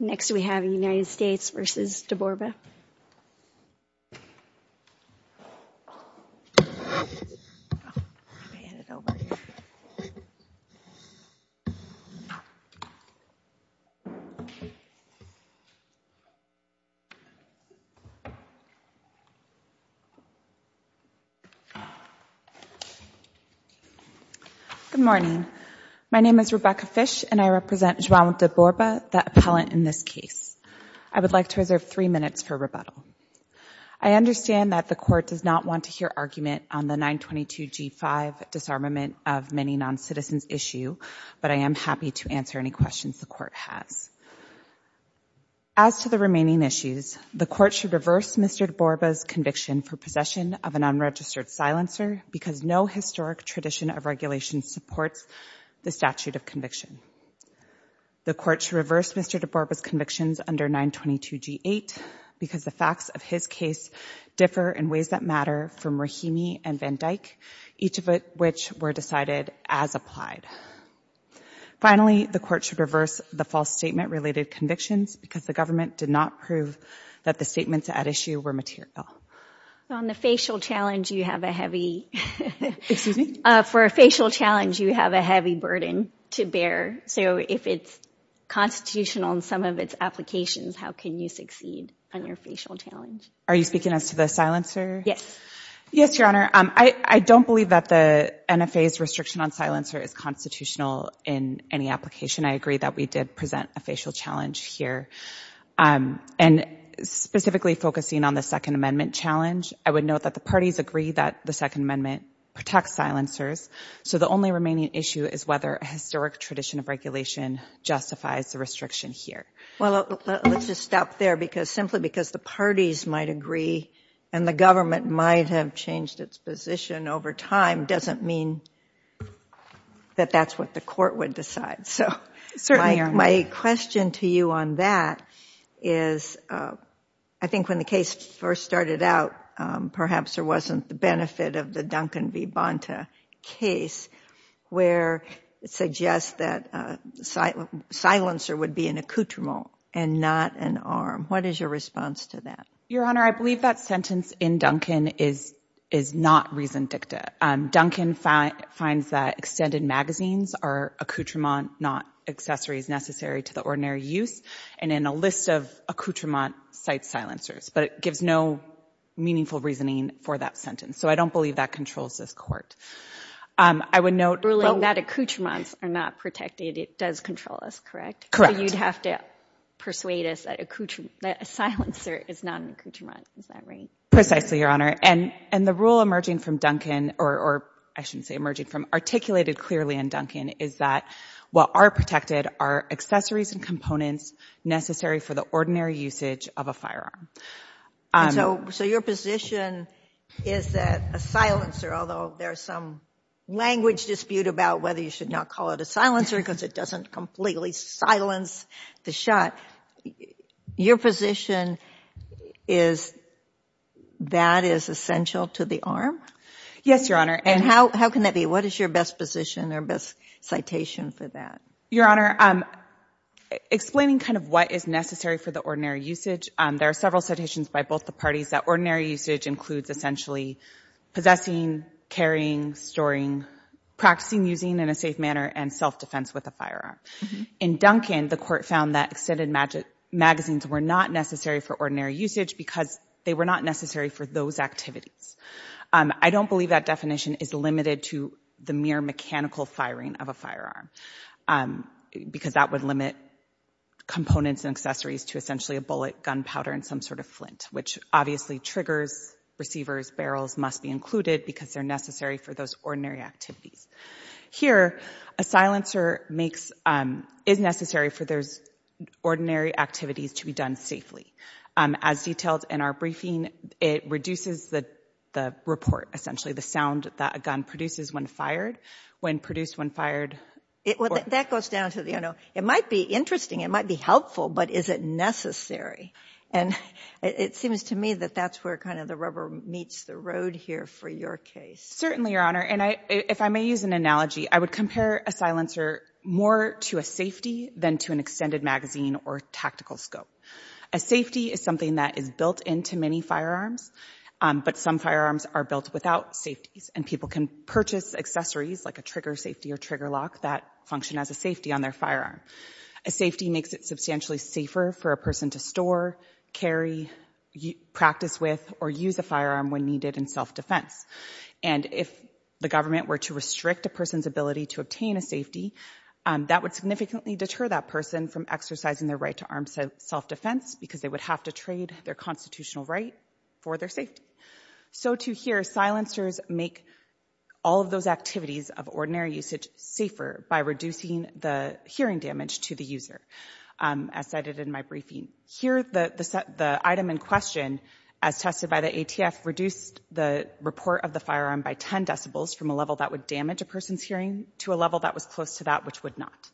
Next we have the United States v. DeBorba. Good morning. My name is Rebecca Fish and I represent João de Borba, the appellant in this case. I would like to reserve three minutes for rebuttal. I understand that the Court does not want to hear argument on the 922g5 disarmament of many non-citizens issue, but I am happy to answer any questions the Court has. As to the remaining issues, the Court should reverse Mr. de Borba's conviction for possession of an unregistered silencer because no historic tradition of regulation supports the statute of conviction. The Court should reverse Mr. de Borba's convictions under 922g8 because the facts of his case differ in ways that matter from Rahimi and Van Dyck, each of which were decided as applied. Finally, the Court should reverse the false statement-related convictions because the government did not prove that the statements at issue were material. On the facial challenge, you have a heavy burden to bear. So if it's constitutional in some of its applications, how can you succeed on your facial challenge? Are you speaking as to the silencer? Yes. Yes, Your Honor. I don't believe that the NFA's restriction on silencer is constitutional in any application. I agree that we did present a facial challenge here. And specifically focusing on the Second Amendment challenge, I would note that the parties agree that the Second Amendment protects silencers. So the only remaining issue is whether a historic tradition of regulation justifies the restriction here. Well, let's just stop there because simply because the parties might agree and the government might have changed its position over time doesn't mean that that's what the Court would decide. Certainly, Your Honor. My question to you on that is, I think when the case first started out, perhaps there wasn't the benefit of the Duncan v. Bonta case where it suggests that a silencer would be an accoutrement and not an arm. What is your response to that? Your Honor, I believe that sentence in Duncan is not reason dicta. Duncan finds that extended magazines are accoutrements, not accessories necessary to the ordinary use. And in a list of accoutrements, cite silencers. But it gives no meaningful reasoning for that sentence. So I don't believe that controls this Court. I would note— Ruling that accoutrements are not protected, it does control us, correct? Correct. So you'd have to persuade us that a silencer is not an accoutrement. Is that right? Precisely, Your Honor. And the rule emerging from Duncan—or I shouldn't say emerging from—articulated clearly in Duncan is that, while are protected, are accessories and components necessary for the ordinary usage of a firearm. So your position is that a silencer, although there's some language dispute about whether you should not call it a silencer because it doesn't completely silence the shot, your position is that is essential to the arm? Yes, Your Honor. And how can that be? What is your best position or best citation for that? Your Honor, explaining kind of what is necessary for the ordinary usage, there are several citations by both the parties that ordinary usage includes essentially possessing, carrying, storing, practicing using in a safe manner, and self-defense with a firearm. In Duncan, the court found that extended magazines were not necessary for ordinary usage because they were not necessary for those activities. I don't believe that definition is limited to the mere mechanical firing of a firearm because that would limit components and accessories to essentially a bullet, gunpowder, and some sort of flint, which obviously triggers, receivers, barrels must be included because they're necessary for those ordinary activities. Here, a silencer is necessary for those ordinary activities to be done safely. As detailed in our briefing, it reduces the report, essentially the sound that a gun produces when fired, when produced, when fired. That goes down to, you know, it might be interesting, it might be helpful, but is it necessary? And it seems to me that that's where kind of the rubber meets the road here for your case. Certainly, Your Honor. And if I may use an analogy, I would compare a silencer more to a safety than to an extended magazine or tactical scope. A safety is something that is built into many firearms, but some firearms are built without safeties, and people can purchase accessories like a trigger safety or trigger lock that function as a safety on their firearm. A safety makes it substantially safer for a person to store, carry, practice with, or use a firearm when needed in self-defense. And if the government were to restrict a person's ability to obtain a safety, that would significantly deter that person from exercising their right to armed self-defense because they would have to trade their constitutional right for their safety. So to hear, silencers make all of those activities of ordinary usage safer by reducing the hearing damage to the user, as cited in my briefing. Here, the item in question, as tested by the ATF, reduced the report of the firearm by 10 decibels from a level that would damage a person's hearing to a level that was close to that which would not.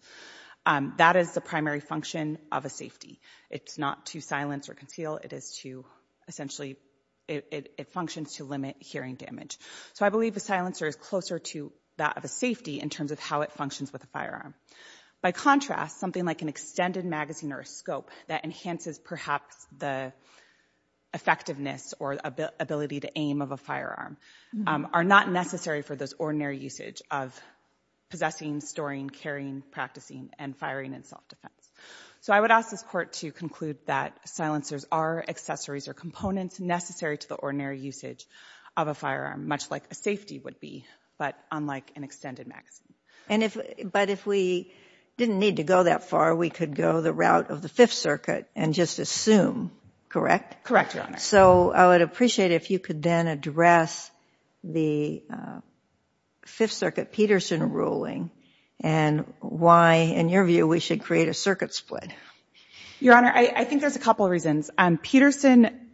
That is the primary function of a safety. It's not to silence or conceal. It is to, essentially, it functions to limit hearing damage. So I believe a silencer is closer to that of a safety in terms of how it functions with a firearm. By contrast, something like an extended magazine or a scope that enhances, perhaps, the effectiveness or ability to aim of a firearm are not necessary for this ordinary usage of possessing, storing, carrying, practicing, and firing in self-defense. So I would ask this Court to conclude that silencers are accessories or components necessary to the ordinary usage of a firearm, much like a safety would be, but unlike an extended magazine. And if, but if we didn't need to go that far, we could go the route of the Fifth Circuit and just assume. Correct, Your Honor. So I would appreciate if you could then address the Fifth Circuit Peterson ruling and why, in your view, we should create a circuit split. Your Honor, I think there's a couple of reasons. Peterson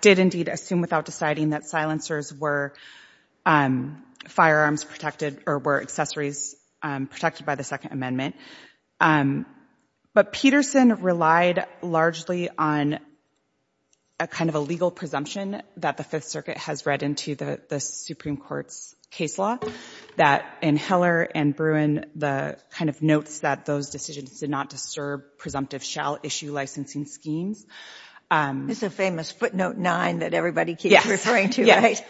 did, indeed, assume without deciding that silencers were firearms protected or were accessories protected by the Second Amendment. But Peterson relied largely on a kind of a legal presumption that the Fifth Circuit has read into the Supreme Court's case law, that in Heller and Bruin, the kind of notes that those decisions did not disturb presumptive shall issue licensing schemes. It's a famous footnote nine that everybody keeps referring to, right?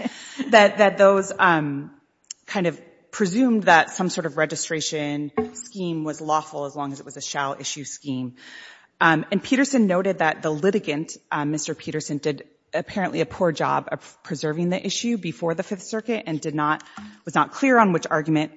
That those kind of presumed that some sort of registration scheme was lawful as long as it was a shall issue scheme. And Peterson noted that the litigant, Mr. Peterson, did apparently a poor job of preserving the issue before the Fifth Circuit and did not, was not clear on which argument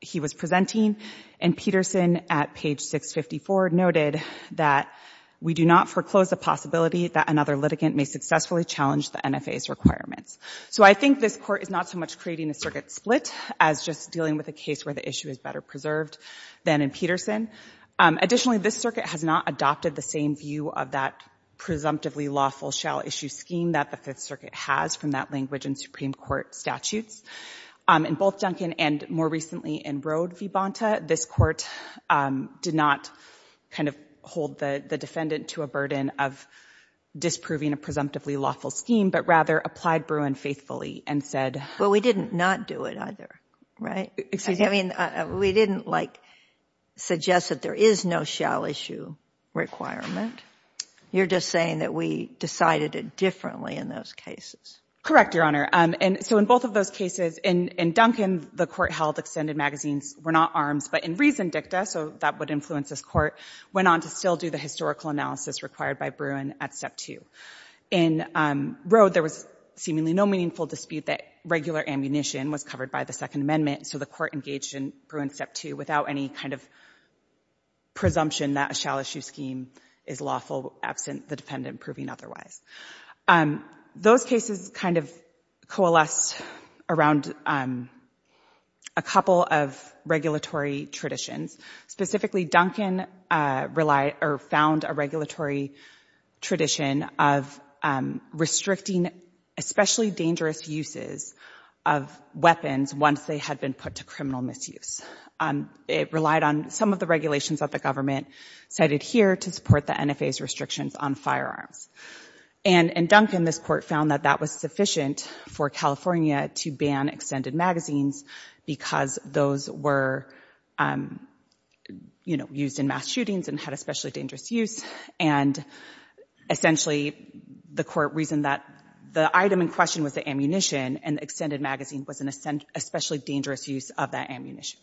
he was presenting. And Peterson, at page 654, noted that we do not foreclose the possibility that another litigant may successfully challenge the NFA's requirements. So I think this Court is not so much creating a circuit split as just dealing with a case where the issue is better preserved than in Peterson. Additionally, this Circuit has not adopted the same view of that presumptively lawful shall issue scheme that the Fifth Circuit has from that language in Supreme Court statutes. In both Duncan and more recently in Rode v. Bonta, this Court did not kind of hold the defendant to a burden of disproving a presumptively lawful scheme, but rather applied Bruin faithfully and said— But we didn't not do it either, right? We didn't, like, suggest that there is no shall issue requirement. You're just saying that we decided it differently in those cases. Correct, Your Honor. And so in both of those cases, in Duncan, the Court held extended magazines were not in reason dicta, so that would influence this Court, went on to still do the historical analysis required by Bruin at Step 2. In Rode, there was seemingly no meaningful dispute that regular ammunition was covered by the Second Amendment, so the Court engaged in Bruin Step 2 without any kind of presumption that a shall issue scheme is lawful absent the defendant proving otherwise. Those cases kind of coalesced around a couple of regulatory traditions. Specifically, Duncan relied—or found a regulatory tradition of restricting especially dangerous uses of weapons once they had been put to criminal misuse. It relied on some of the regulations that the government cited here to support the NFA's restrictions on firearms. And in Duncan, this Court found that that was sufficient for California to ban extended magazines because those were, you know, used in mass shootings and had especially dangerous use. And essentially, the Court reasoned that the item in question was the ammunition, and extended magazine was an especially dangerous use of that ammunition.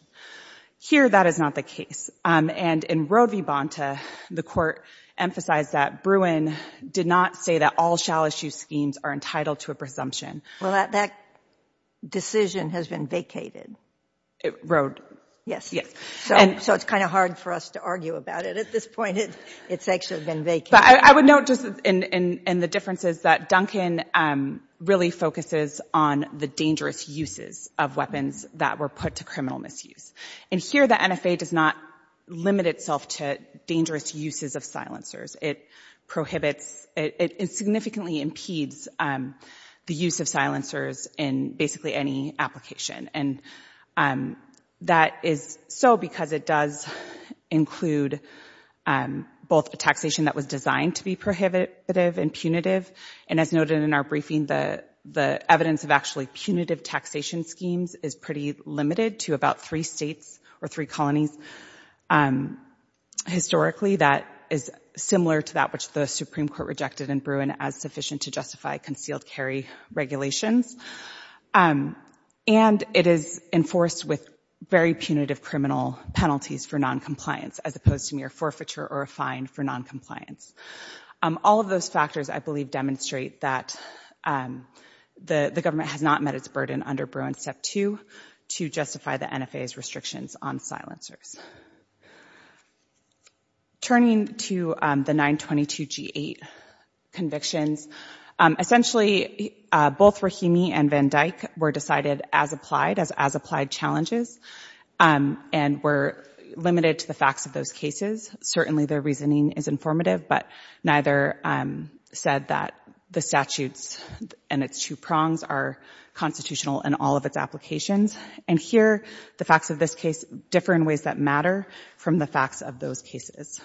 Here that is not the case. And in Rode v. Bonta, the Court emphasized that Bruin did not say that all shall issue schemes are entitled to a presumption. Well, that decision has been vacated. Rode. Yes. Yes. So it's kind of hard for us to argue about it. At this point, it's actually been vacated. But I would note just in the differences that Duncan really focuses on the dangerous uses of weapons that were put to criminal misuse. And here the NFA does not limit itself to dangerous uses of silencers. It prohibits, it significantly impedes the use of silencers in basically any application. And that is so because it does include both a taxation that was designed to be prohibitive and punitive. And as noted in our briefing, the evidence of actually punitive taxation schemes is pretty limited to about three states or three colonies. Historically, that is similar to that which the Supreme Court rejected in Bruin as sufficient to justify concealed carry regulations. And it is enforced with very punitive criminal penalties for noncompliance as opposed to mere forfeiture or a fine for noncompliance. All of those factors, I believe, demonstrate that the government has not met its burden under Bruin Step 2 to justify the NFA's restrictions on silencers. Turning to the 922G8 convictions, essentially both Rahimi and Van Dyck were decided as applied as as applied challenges and were limited to the facts of those cases. Certainly their reasoning is informative, but neither said that the statutes and its two prongs are constitutional in all of its applications. And here, the facts of this case differ in ways that matter from the facts of those cases.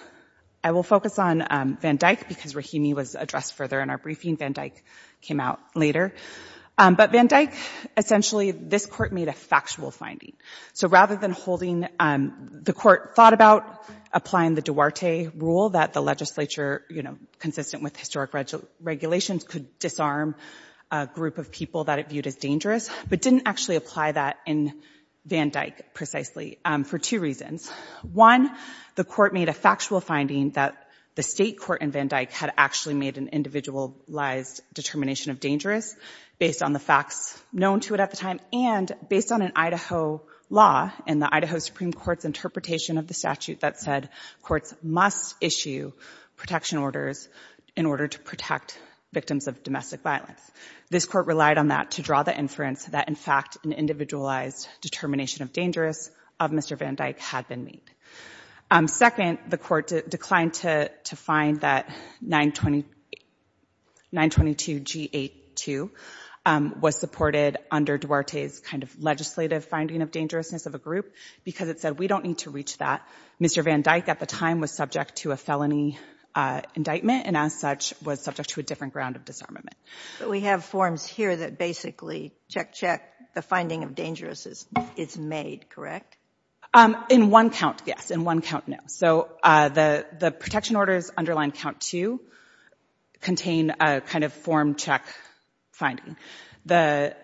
I will focus on Van Dyck because Rahimi was addressed further in our briefing. Van Dyck came out later. But Van Dyck, essentially this court made a factual finding. So rather than holding the court thought about applying the Duarte rule that the legislature, consistent with historic regulations, could disarm a group of people that it viewed as dangerous, but didn't actually apply that in Van Dyck precisely for two reasons. One, the court made a factual finding that the state court in Van Dyck had actually made an individualized determination of dangerous based on the facts known to it at the time and based on an Idaho law in the Idaho Supreme Court's interpretation of the statute that said courts must issue protection orders in order to protect victims of domestic violence. This court relied on that to draw the inference that, in fact, an individualized determination of dangerous of Mr. Van Dyck had been made. Second, the court declined to find that 922G82 was supported under Duarte's kind of legislative finding of dangerousness of a group because it said we don't need to reach that. Mr. Van Dyck at the time was subject to a felony indictment and, as such, was subject to a different ground of disarmament. But we have forms here that basically, check, check, the finding of dangerousness is made, correct? In one count, yes. In one count, no. So the protection orders underlying count two contain a kind of form check finding. The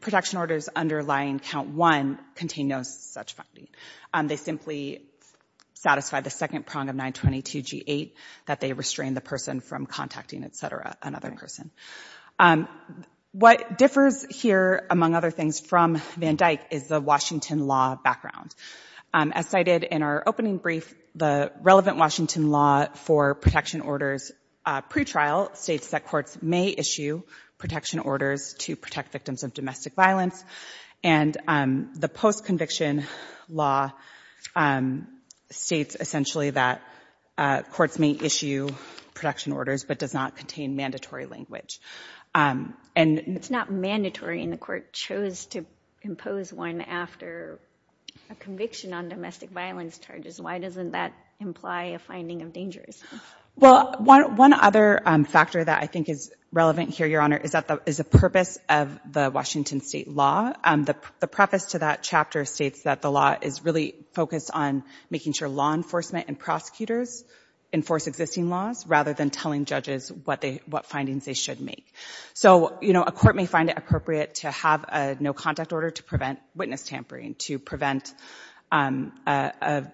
protection orders underlying count one contain no such finding. They simply satisfy the second prong of 922G8 that they restrain the person from contacting, et cetera, another person. What differs here, among other things, from Van Dyck is the Washington law background. As cited in our opening brief, the relevant Washington law for protection orders pretrial states that courts may issue protection orders to protect victims of domestic violence and the post-conviction law states essentially that courts may issue protection orders but does not contain mandatory language. It's not mandatory and the court chose to impose one after a conviction on domestic violence charges. Why doesn't that imply a finding of dangerousness? Well, one other factor that I think is relevant here, Your Honor, is the purpose of the Washington state law. The preface to that chapter states that the law is really focused on making sure law enforcement and prosecutors enforce existing laws rather than telling judges what findings they should make. So a court may find it appropriate to have a no-contact order to prevent witness tampering, to prevent a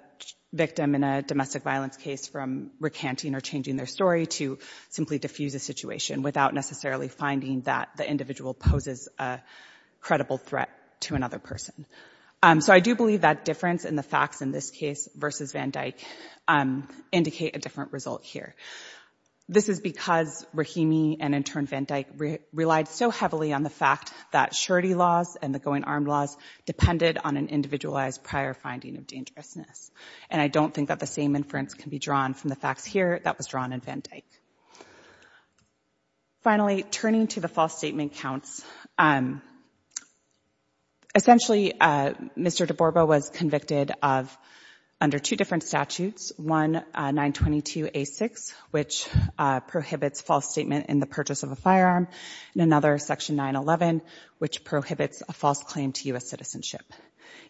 victim in a domestic violence case from recanting or changing their story, to simply diffuse a situation without necessarily finding that the individual poses a credible threat to another person. So I do believe that difference in the facts in this case versus Van Dyck indicate a different result here. This is because Rahimi and in turn Van Dyck relied so heavily on the fact that surety laws and the going-armed laws depended on an individualized prior finding of dangerousness. And I don't think that the same inference can be drawn from the facts here that was made. Finally, turning to the false statement counts. Essentially, Mr. DeBorba was convicted of, under two different statutes, one, 922A6, which prohibits false statement in the purchase of a firearm, and another, Section 911, which prohibits a false claim to U.S. citizenship.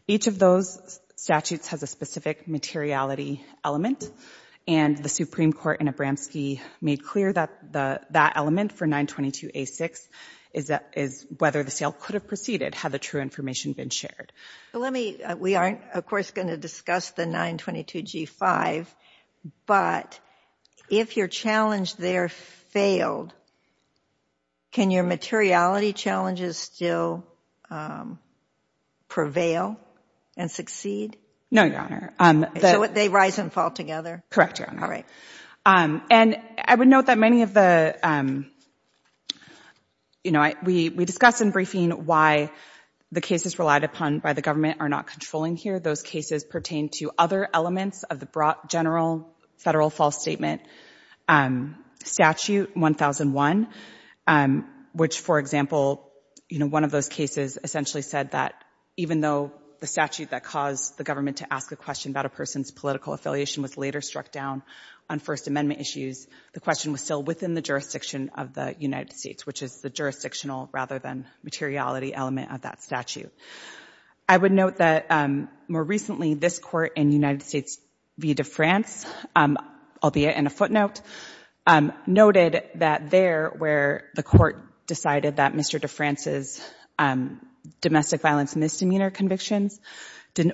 Each of those statutes has a specific materiality element, and the Supreme Court in Abramski made clear that that element for 922A6 is whether the sale could have proceeded had the true information been shared. We aren't, of course, going to discuss the 922G5, but if your challenge there failed, can your materiality challenges still prevail and succeed? No, Your Honor. They rise and fall together? Correct, Your Honor. All right. And I would note that many of the, you know, we discuss in briefing why the cases relied upon by the government are not controlling here. Those cases pertain to other elements of the broad general federal false statement statute 1001, which, for example, you know, one of those cases essentially said that even though the statute that caused the government to ask a question about a person's political affiliation was later struck down on First Amendment issues, the question was still within the jurisdiction of the United States, which is the jurisdictional rather than materiality element of that statute. I would note that more recently this Court in United States v. De France, albeit in a footnote, noted that there where the Court decided that Mr. De France's domestic violence misdemeanor convictions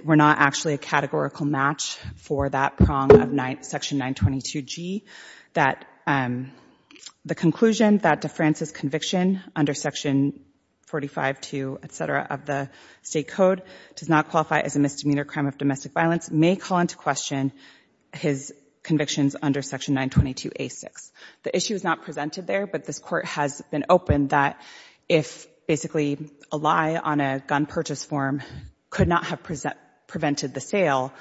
were not actually a categorical match for that prong of Section 922G, that the conclusion that De France's conviction under Section 452, et cetera, of the state code does not qualify as a misdemeanor crime of domestic violence may call into question his convictions under Section 922A6. The issue is not presented there, but this Court has been open that if basically a lie on a gun purchase form could not have prevented the sale,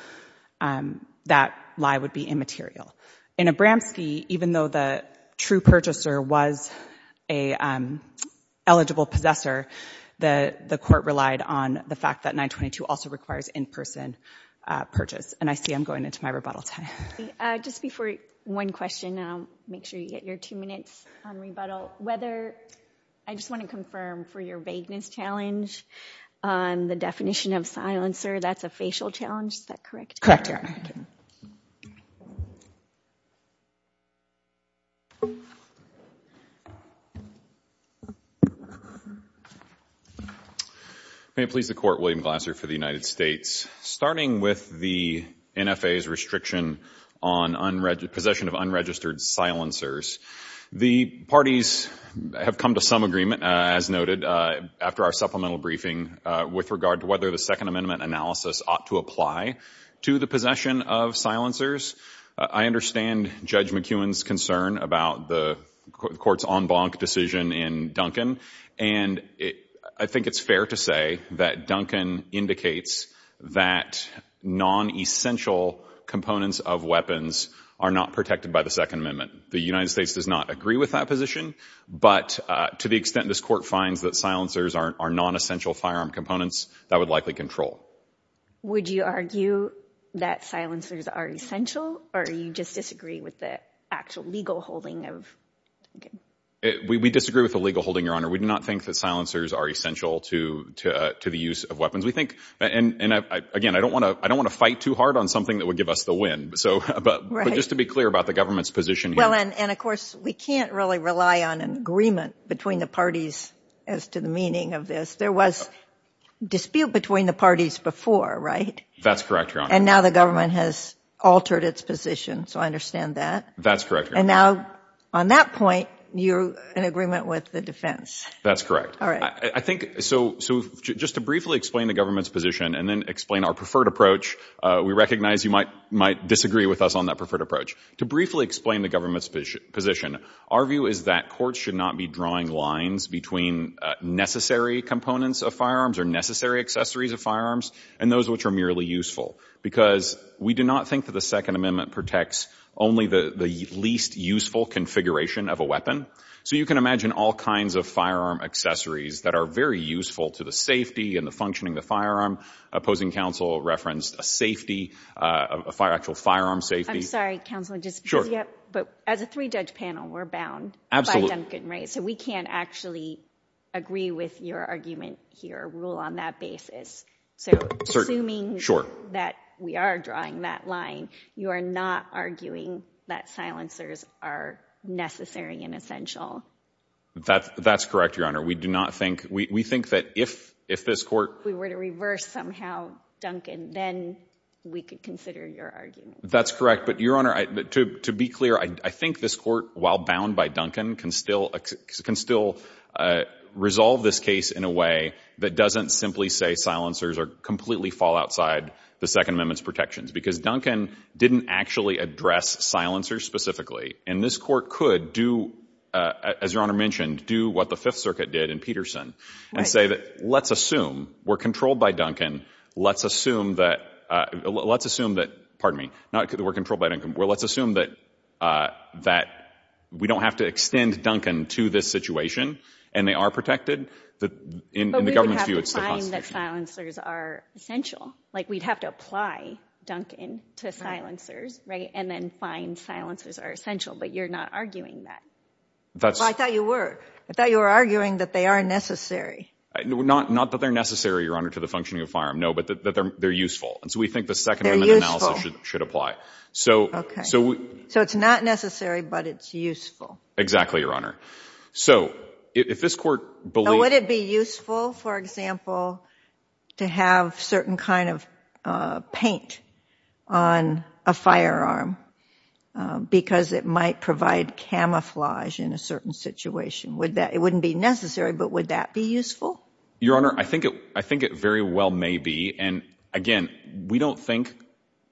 that lie would be immaterial. In Abramski, even though the true purchaser was an eligible possessor, the Court relied on the fact that 922 also requires in-person purchase. And I see I'm going into my rebuttal time. Just before one question, and I'll make sure you get your two minutes on rebuttal, whether I just want to confirm for your vagueness challenge on the definition of silencer, that's a facial challenge, is that correct? Correct, Your Honor. May it please the Court, William Glasser for the United States. Starting with the NFA's restriction on possession of unregistered silencers, the parties have come to some agreement, as noted after our supplemental briefing, with regard to whether the Second Amendment analysis ought to apply to the possession of silencers. I understand Judge McEwen's concern about the Court's en banc decision in Duncan, and I think it's fair to say that Duncan indicates that non-essential components of weapons are not protected by the Second Amendment. The United States does not agree with that position, but to the extent this Court finds that silencers are non-essential firearm components, that would likely control. Would you argue that silencers are essential, or you just disagree with the actual legal holding of Duncan? We disagree with the legal holding, Your Honor. We do not think that silencers are essential to the use of weapons. We think, and again, I don't want to fight too hard on something that would give us the win, but just to be clear about the government's position here. Of course, we can't really rely on an agreement between the parties as to the meaning of this. There was dispute between the parties before, right? That's correct, Your Honor. And now the government has altered its position, so I understand that. That's correct, Your Honor. And now, on that point, you're in agreement with the defense. That's correct. Just to briefly explain the government's position and then explain our preferred approach, we recognize you might disagree with us on that preferred approach. To briefly explain the government's position, our view is that courts should not be drawing lines between necessary components of firearms or necessary accessories of firearms and those which are merely useful, because we do not think that the Second Amendment protects only the least useful configuration of a weapon. So you can imagine all kinds of firearm accessories that are very useful to the safety and the functioning of the firearm. Opposing counsel referenced a safety, actual firearm safety. I'm sorry, Counsel, but as a three-judge panel, we're bound by Duncan, right? So we can't actually agree with your argument here, rule on that basis. So assuming that we are drawing that line, you are not arguing that silencers are necessary and essential? That's correct, Your Honor. We do not think, we think that if this court... We were to reverse somehow, Duncan, then we could consider your argument. That's correct. But, Your Honor, to be clear, I think this court, while bound by Duncan, can still resolve this case in a way that doesn't simply say silencers completely fall outside the Second Amendment's protections, because Duncan didn't actually address silencers specifically. And this court could do, as Your Honor mentioned, do what the Fifth Circuit did in Peterson and say that, let's assume we're controlled by Duncan, let's assume that, let's assume that, pardon me, not that we're controlled by Duncan, but let's assume that we don't have to extend Duncan to this situation and they are protected. But we would have to find that silencers are essential. Like, we'd have to apply Duncan to silencers, right? And then find silencers are essential. But you're not arguing that. I thought you were. I thought you were arguing that they are necessary. Not that they're necessary, Your Honor, to the functioning of a firearm. No, but that they're useful. And so we think the Second Amendment analysis should apply. So it's not necessary, but it's useful. Exactly, Your Honor. So if this court believes... Would it be useful, for example, to have certain kind of paint on a firearm because it might provide camouflage in a certain situation? Would that... It wouldn't be necessary, but would that be useful? Your Honor, I think it very well may be. And again, we don't think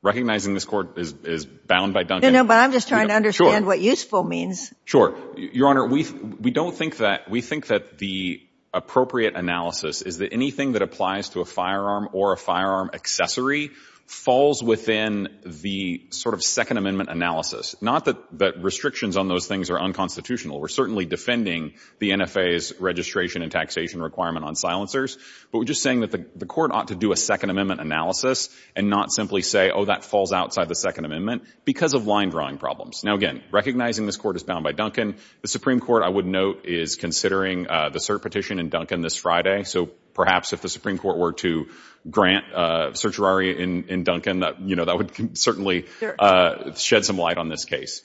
recognizing this court is bound by Duncan. No, but I'm just trying to understand what useful means. Sure. Your Honor, we don't think that... We think that the appropriate analysis is that anything that applies to a firearm or a firearm accessory falls within the sort of Second Amendment analysis. Not that restrictions on those things are unconstitutional. We're certainly defending the NFA's registration and taxation requirement on silencers, but we're just saying that the court ought to do a Second Amendment analysis and not simply say, oh, that falls outside the Second Amendment because of line drawing problems. Now, again, recognizing this court is bound by Duncan, the Supreme Court, I would note, is considering the cert petition in Duncan this Friday. So perhaps if the Supreme Court were to grant certiorari in Duncan, you know, that would certainly shed some light on this case.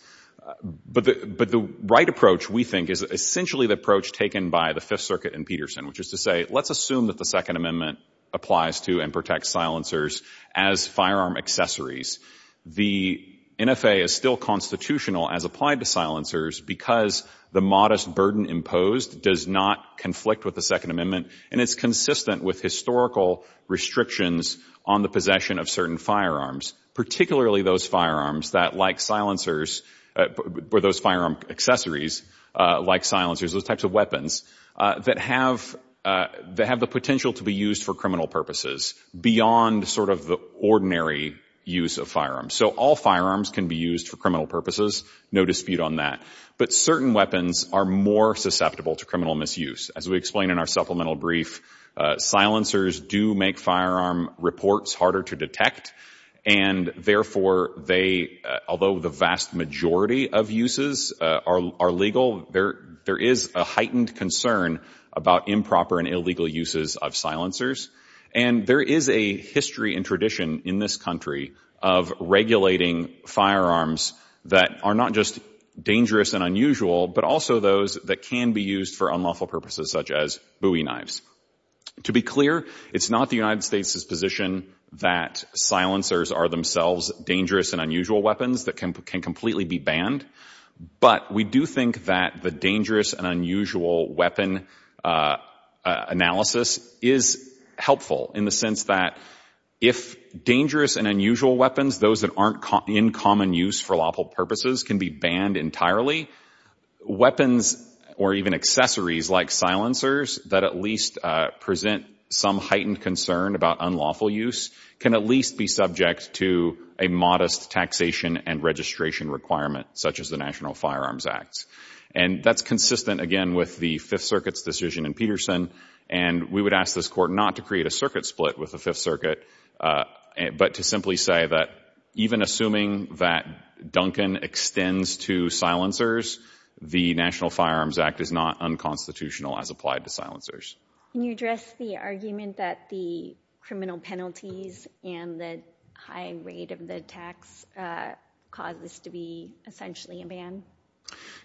But the right approach, we think, is essentially the approach taken by the Fifth Circuit and Peterson, which is to say, let's assume that the Second Amendment applies to and protects silencers as firearm accessories. The NFA is still constitutional as applied to silencers because the modest burden imposed does not conflict with the Second Amendment. And it's consistent with historical restrictions on the possession of certain firearms, particularly those firearms that, like silencers, or those firearm accessories, like silencers, those types of weapons, that have the potential to be used for criminal purposes beyond sort of the ordinary use of firearms. So all firearms can be used for criminal purposes. No dispute on that. But certain weapons are more susceptible to criminal misuse. As we explained in our supplemental brief, silencers do make firearm reports harder to detect. And therefore, they, although the vast majority of uses are legal, there is a heightened concern about improper and illegal uses of silencers. And there is a history and tradition in this country of regulating firearms that are not just dangerous and unusual, but also those that can be used for unlawful purposes, such as bowie knives. To be clear, it's not the United States' position that silencers are themselves dangerous and unusual weapons that can completely be banned. But we do think that the dangerous and unusual weapon analysis is helpful in the sense that if dangerous and unusual weapons, those that aren't in common use for lawful purposes, can be banned entirely, weapons or even accessories like silencers that at least present some heightened concern about unlawful use can at least be subject to a modest taxation and registration requirement, such as the National Firearms Act. And that's consistent, again, with the Fifth Circuit's decision in Peterson. And we would ask this Court not to create a circuit split with the Fifth Circuit, but to simply say that even assuming that Duncan extends to silencers, the National Firearms Act is not unconstitutional as applied to silencers. Can you address the argument that the criminal penalties and the high rate of the tax cause this to be essentially a ban?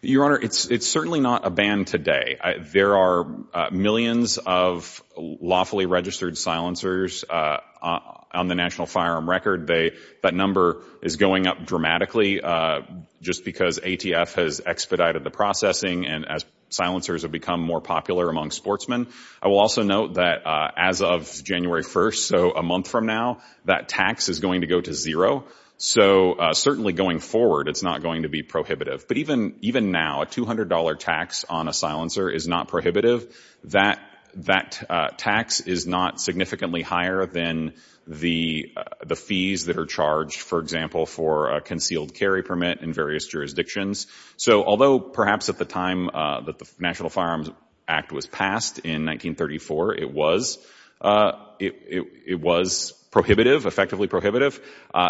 Your Honor, it's certainly not a ban today. There are millions of lawfully registered silencers on the national firearm record. That number is going up dramatically just because ATF has expedited the processing and as silencers have become more popular among sportsmen. I will also note that as of January 1st, so a month from now, that tax is going to go to zero. So certainly going forward, it's not going to be prohibitive. But even now, a $200 tax on a silencer is not prohibitive. That tax is not significantly higher than the fees that are charged, for example, for a concealed carry permit in various jurisdictions. So although perhaps at the time that the National Firearms Act was passed in 1934, it was prohibitive, effectively prohibitive,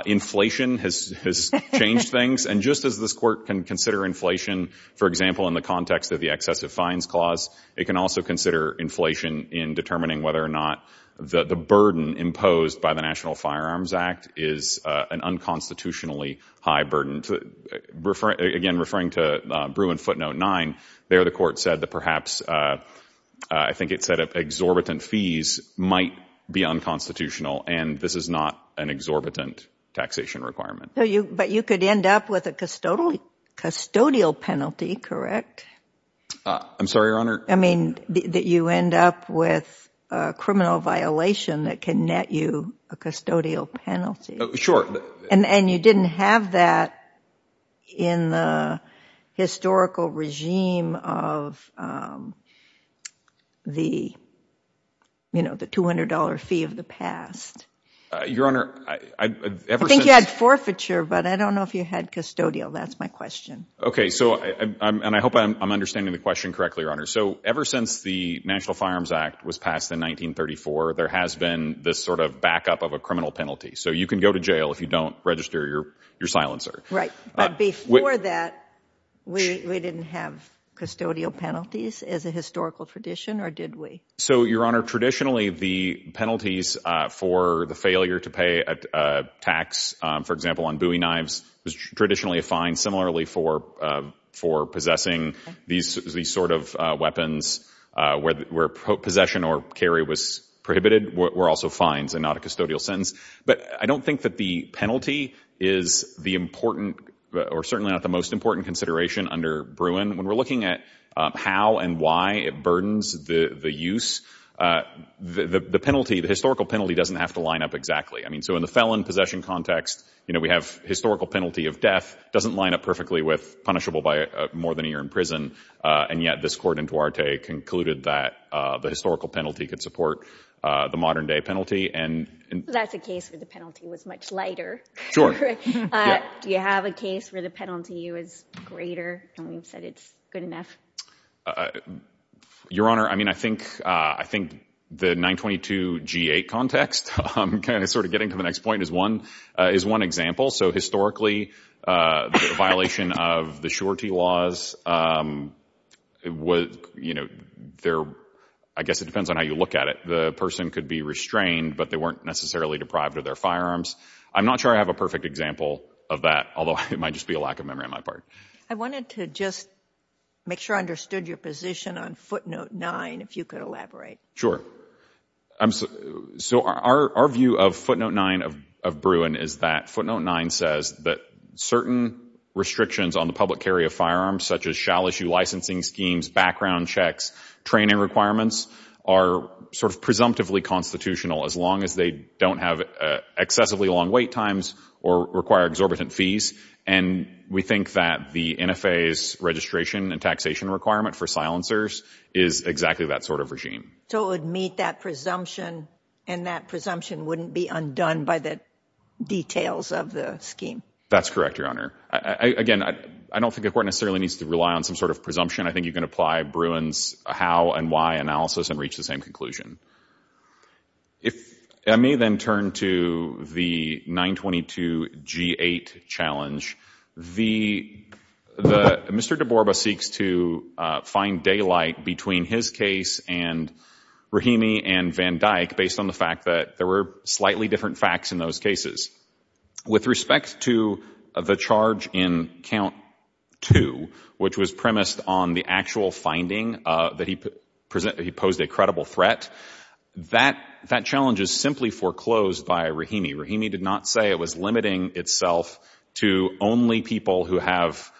inflation has changed things. And just as this court can consider inflation, for example, in the context of the excessive fines clause, it can also consider inflation in determining whether or not the burden imposed by the National Firearms Act is an unconstitutionally high burden. Again, referring to Bruin footnote 9, there the court said that perhaps, I think it said exorbitant fees might be unconstitutional and this is not an exorbitant taxation requirement. But you could end up with a custodial penalty, correct? I'm sorry, Your Honor. I mean, that you end up with a criminal violation that can net you a custodial penalty. Sure. And you didn't have that in the historical regime of the $200 fee of the past. Your Honor, ever since... But I don't know if you had custodial. That's my question. So and I hope I'm understanding the question correctly, Your Honor. So ever since the National Firearms Act was passed in 1934, there has been this sort of backup of a criminal penalty. So you can go to jail if you don't register your silencer. Right. But before that, we didn't have custodial penalties as a historical tradition or did we? So, Your Honor, traditionally the penalties for the failure to pay a tax, for example, on Bowie knives was traditionally a fine. Similarly, for possessing these sort of weapons where possession or carry was prohibited were also fines and not a custodial sentence. But I don't think that the penalty is the important or certainly not the most important consideration under Bruin. When we're looking at how and why it burdens the use, the penalty, the historical penalty doesn't have to line up exactly. I mean, so in the felon possession context, you know, we have historical penalty of death doesn't line up perfectly with punishable by more than a year in prison. And yet this court in Duarte concluded that the historical penalty could support the modern day penalty. And that's a case where the penalty was much lighter. Sure. Do you have a case where the penalty was greater and we've said it's good enough? Uh, Your Honor, I mean, I think, uh, I think the 922 G8 context, um, kind of sort of getting to the next point is one, uh, is one example. So historically, uh, the violation of the surety laws, um, was, you know, there, I guess it depends on how you look at it. The person could be restrained, but they weren't necessarily deprived of their firearms. I'm not sure I have a perfect example of that, although it might just be a lack of memory on my part. I wanted to just make sure I understood your position on footnote nine, if you could elaborate. Um, so our, our view of footnote nine of, of Bruin is that footnote nine says that certain restrictions on the public carry of firearms, such as shall issue licensing schemes, background checks, training requirements are sort of presumptively constitutional as long as they don't have, uh, excessively long wait times or require exorbitant fees. And we think that the NFA's registration and taxation requirement for silencers is exactly that sort of regime. So it would meet that presumption and that presumption wouldn't be undone by the details of the scheme. That's correct, Your Honor. Again, I don't think the court necessarily needs to rely on some sort of presumption. I think you can apply Bruin's how and why analysis and reach the same conclusion. If I may then turn to the 922 G8 challenge, the, the, Mr. DeBorba seeks to, uh, find daylight between his case and Rahimi and Van Dyck based on the fact that there were slightly different facts in those cases. With respect to the charge in count two, which was premised on the actual finding, uh, that he posed a credible threat, that, that challenge is simply foreclosed by Rahimi. Rahimi did not say it was limiting itself to only people who have,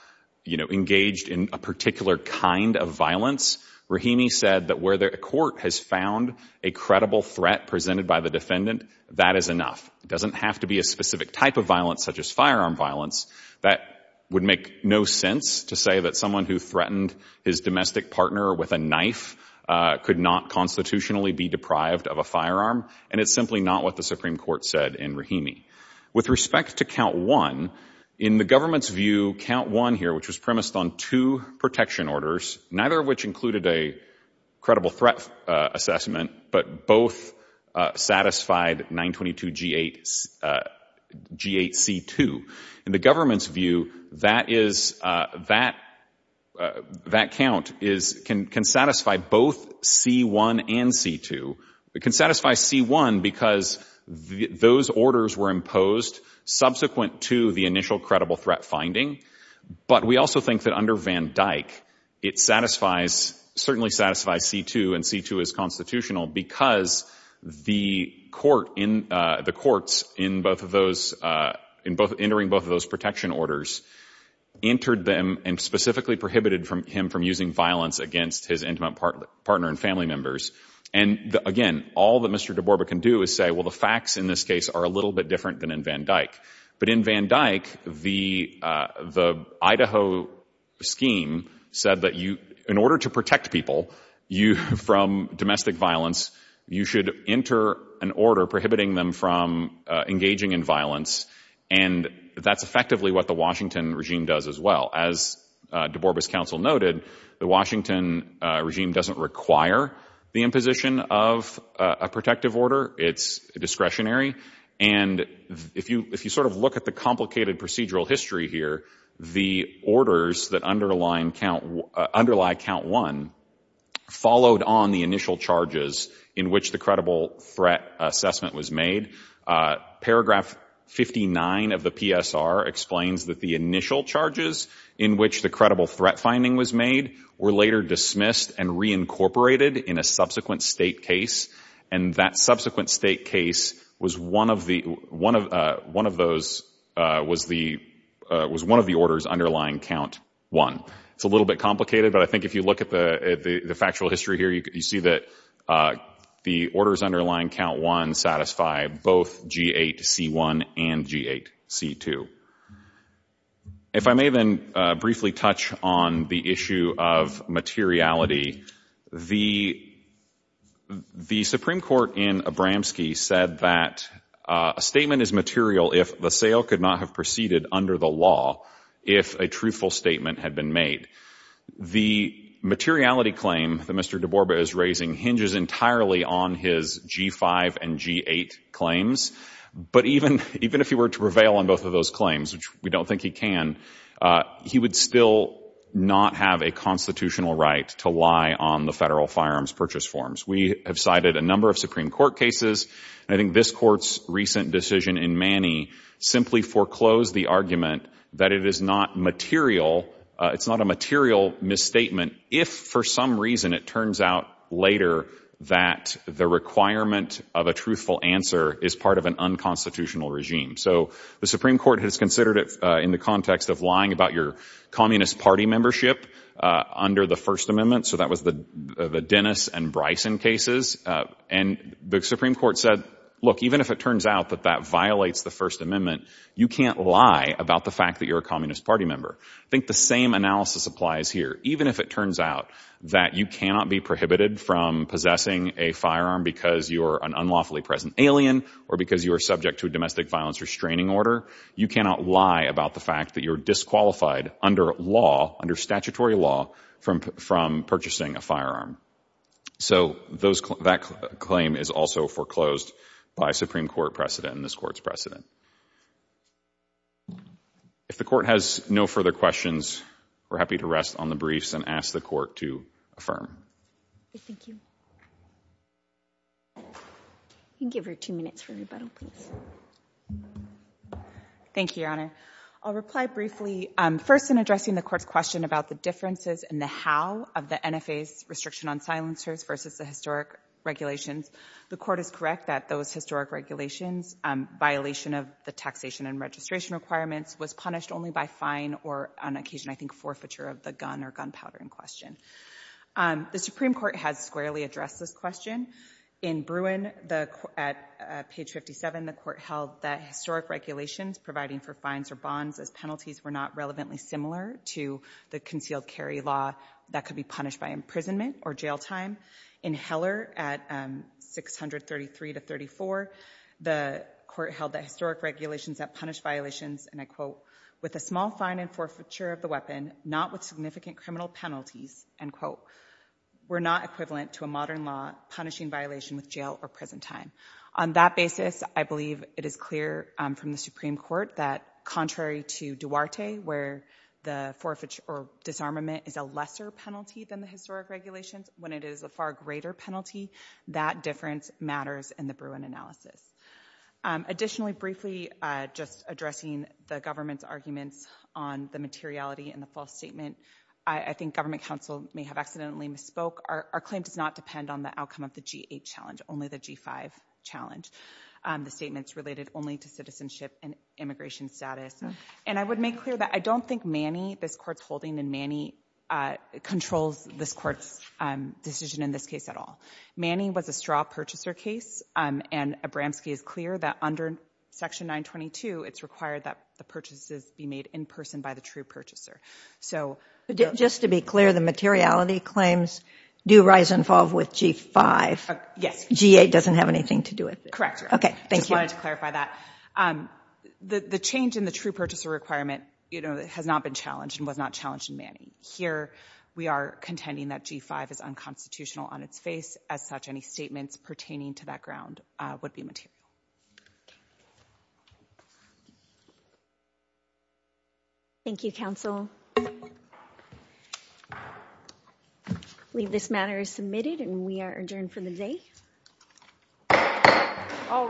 you know, engaged in a particular kind of violence. Rahimi said that where the court has found a credible threat presented by the defendant, that is enough. It doesn't have to be a specific type of violence such as firearm violence. That would make no sense to say that someone who threatened his domestic partner with a knife, uh, could not constitutionally be deprived of a firearm. And it's simply not what the Supreme Court said in Rahimi. With respect to count one, in the government's view, count one here, which was premised on two protection orders, neither of which included a credible threat, uh, assessment, but both, uh, satisfied 922 G8, uh, G8C2. In the government's view, that is, uh, that, uh, that count is, can, can satisfy both C1 and C2. It can satisfy C1 because those orders were imposed subsequent to the initial credible threat finding. But we also think that under Van Dyck, it satisfies, certainly satisfies C2 and C2 is because the court in, uh, the courts in both of those, uh, in both entering both of those protection orders entered them and specifically prohibited from him from using violence against his intimate partner and family members. And again, all that Mr. DeBorba can do is say, well, the facts in this case are a little bit different than in Van Dyck. But in Van Dyck, the, uh, the Idaho scheme said that you, in order to protect people, you, from domestic violence, you should enter an order prohibiting them from, uh, engaging in violence. And that's effectively what the Washington regime does as well. As, uh, DeBorba's counsel noted, the Washington, uh, regime doesn't require the imposition of a protective order. It's discretionary. And if you, if you sort of look at the complicated procedural history here, the orders that underline count, uh, underlie count one followed on the initial charges in which the credible threat assessment was made. Uh, paragraph 59 of the PSR explains that the initial charges in which the credible threat finding was made were later dismissed and reincorporated in a subsequent state case. And that subsequent state case was one of the, one of, uh, one of those, uh, was the, was one of the orders underlying count one. It's a little bit complicated, but I think if you look at the, at the, the factual history here, you, you see that, uh, the orders underlying count one satisfy both G8C1 and G8C2. If I may then, uh, briefly touch on the issue of materiality, the, the Supreme Court in Abramski said that, uh, a statement is material if the sale could not have proceeded under the law, if a truthful statement had been made. The materiality claim that Mr. DeBorba is raising hinges entirely on his G5 and G8 claims. But even, even if he were to prevail on both of those claims, which we don't think he can, uh, he would still not have a constitutional right to lie on the federal firearms purchase forms. We have cited a number of Supreme Court cases, and I think this court's recent decision in Manny simply foreclosed the argument that it is not material, uh, it's not a material misstatement if for some reason it turns out later that the requirement of a truthful answer is part of an unconstitutional regime. So the Supreme Court has considered it, uh, in the context of lying about your communist party membership, uh, under the first amendment. So that was the, uh, the Dennis and Bryson cases. Uh, and the Supreme Court said, look, even if it turns out that that violates the first amendment, you can't lie about the fact that you're a communist party member. I think the same analysis applies here. Even if it turns out that you cannot be prohibited from possessing a firearm because you're an unlawfully present alien or because you are subject to a domestic violence restraining order, you cannot lie about the fact that you're disqualified under law, under statutory law from, from purchasing a firearm. So those, that claim is also foreclosed by Supreme Court precedent and this court's precedent. If the court has no further questions, we're happy to rest on the briefs and ask the court to affirm. Thank you. You can give her two minutes for rebuttal, please. Thank you, Your Honor. I'll reply briefly, um, first in addressing the court's question about the differences and the how of the NFA's restriction on silencers versus the historic regulations. The court is correct that those historic regulations, um, violation of the taxation and registration requirements was punished only by fine or on occasion, I think forfeiture of the gun or gunpowder in question. Um, the Supreme Court has squarely addressed this question. In Bruin, the, at page 57, the court held that historic regulations providing for fines or bonds as penalties were not relevantly similar to the concealed carry law that could be punished by imprisonment or jail time. In Heller at, um, 633 to 34, the court held that historic regulations that punish violations and I quote, with a small fine and forfeiture of the weapon, not with significant criminal penalties, end quote, were not equivalent to a modern law punishing violation with jail or prison time. On that basis, I believe it is clear, um, from the Supreme Court that contrary to Duarte, where the forfeiture or disarmament is a lesser penalty than the historic regulations, when it is a far greater penalty, that difference matters in the Bruin analysis. Um, additionally, briefly, uh, just addressing the government's arguments on the materiality and the false statement, I, I think government counsel may have accidentally misspoke. Our, our claim does not depend on the outcome of the G8 challenge, only the G5 challenge. Um, the statements related only to citizenship and immigration status. And I would make clear that I don't think Manny, this court's holding in Manny, uh, controls this court's, um, decision in this case at all. Manny was a straw purchaser case, um, and Abramski is clear that under section 922, it's required that the purchases be made in person by the true purchaser. So... But just to be clear, the materiality claims do rise and fall with G5. Yes. G8 doesn't have anything to do with it. Correct, Your Honor. Okay. Thank you. I just wanted to clarify that. Um, the, the change in the true purchaser requirement, you know, has not been challenged and was not challenged in Manny. Here, we are contending that G5 is unconstitutional on its face. As such, any statements pertaining to that ground, uh, would be material. Okay. Thank you, counsel. I believe this matter is submitted and we are adjourned for the day. All rise.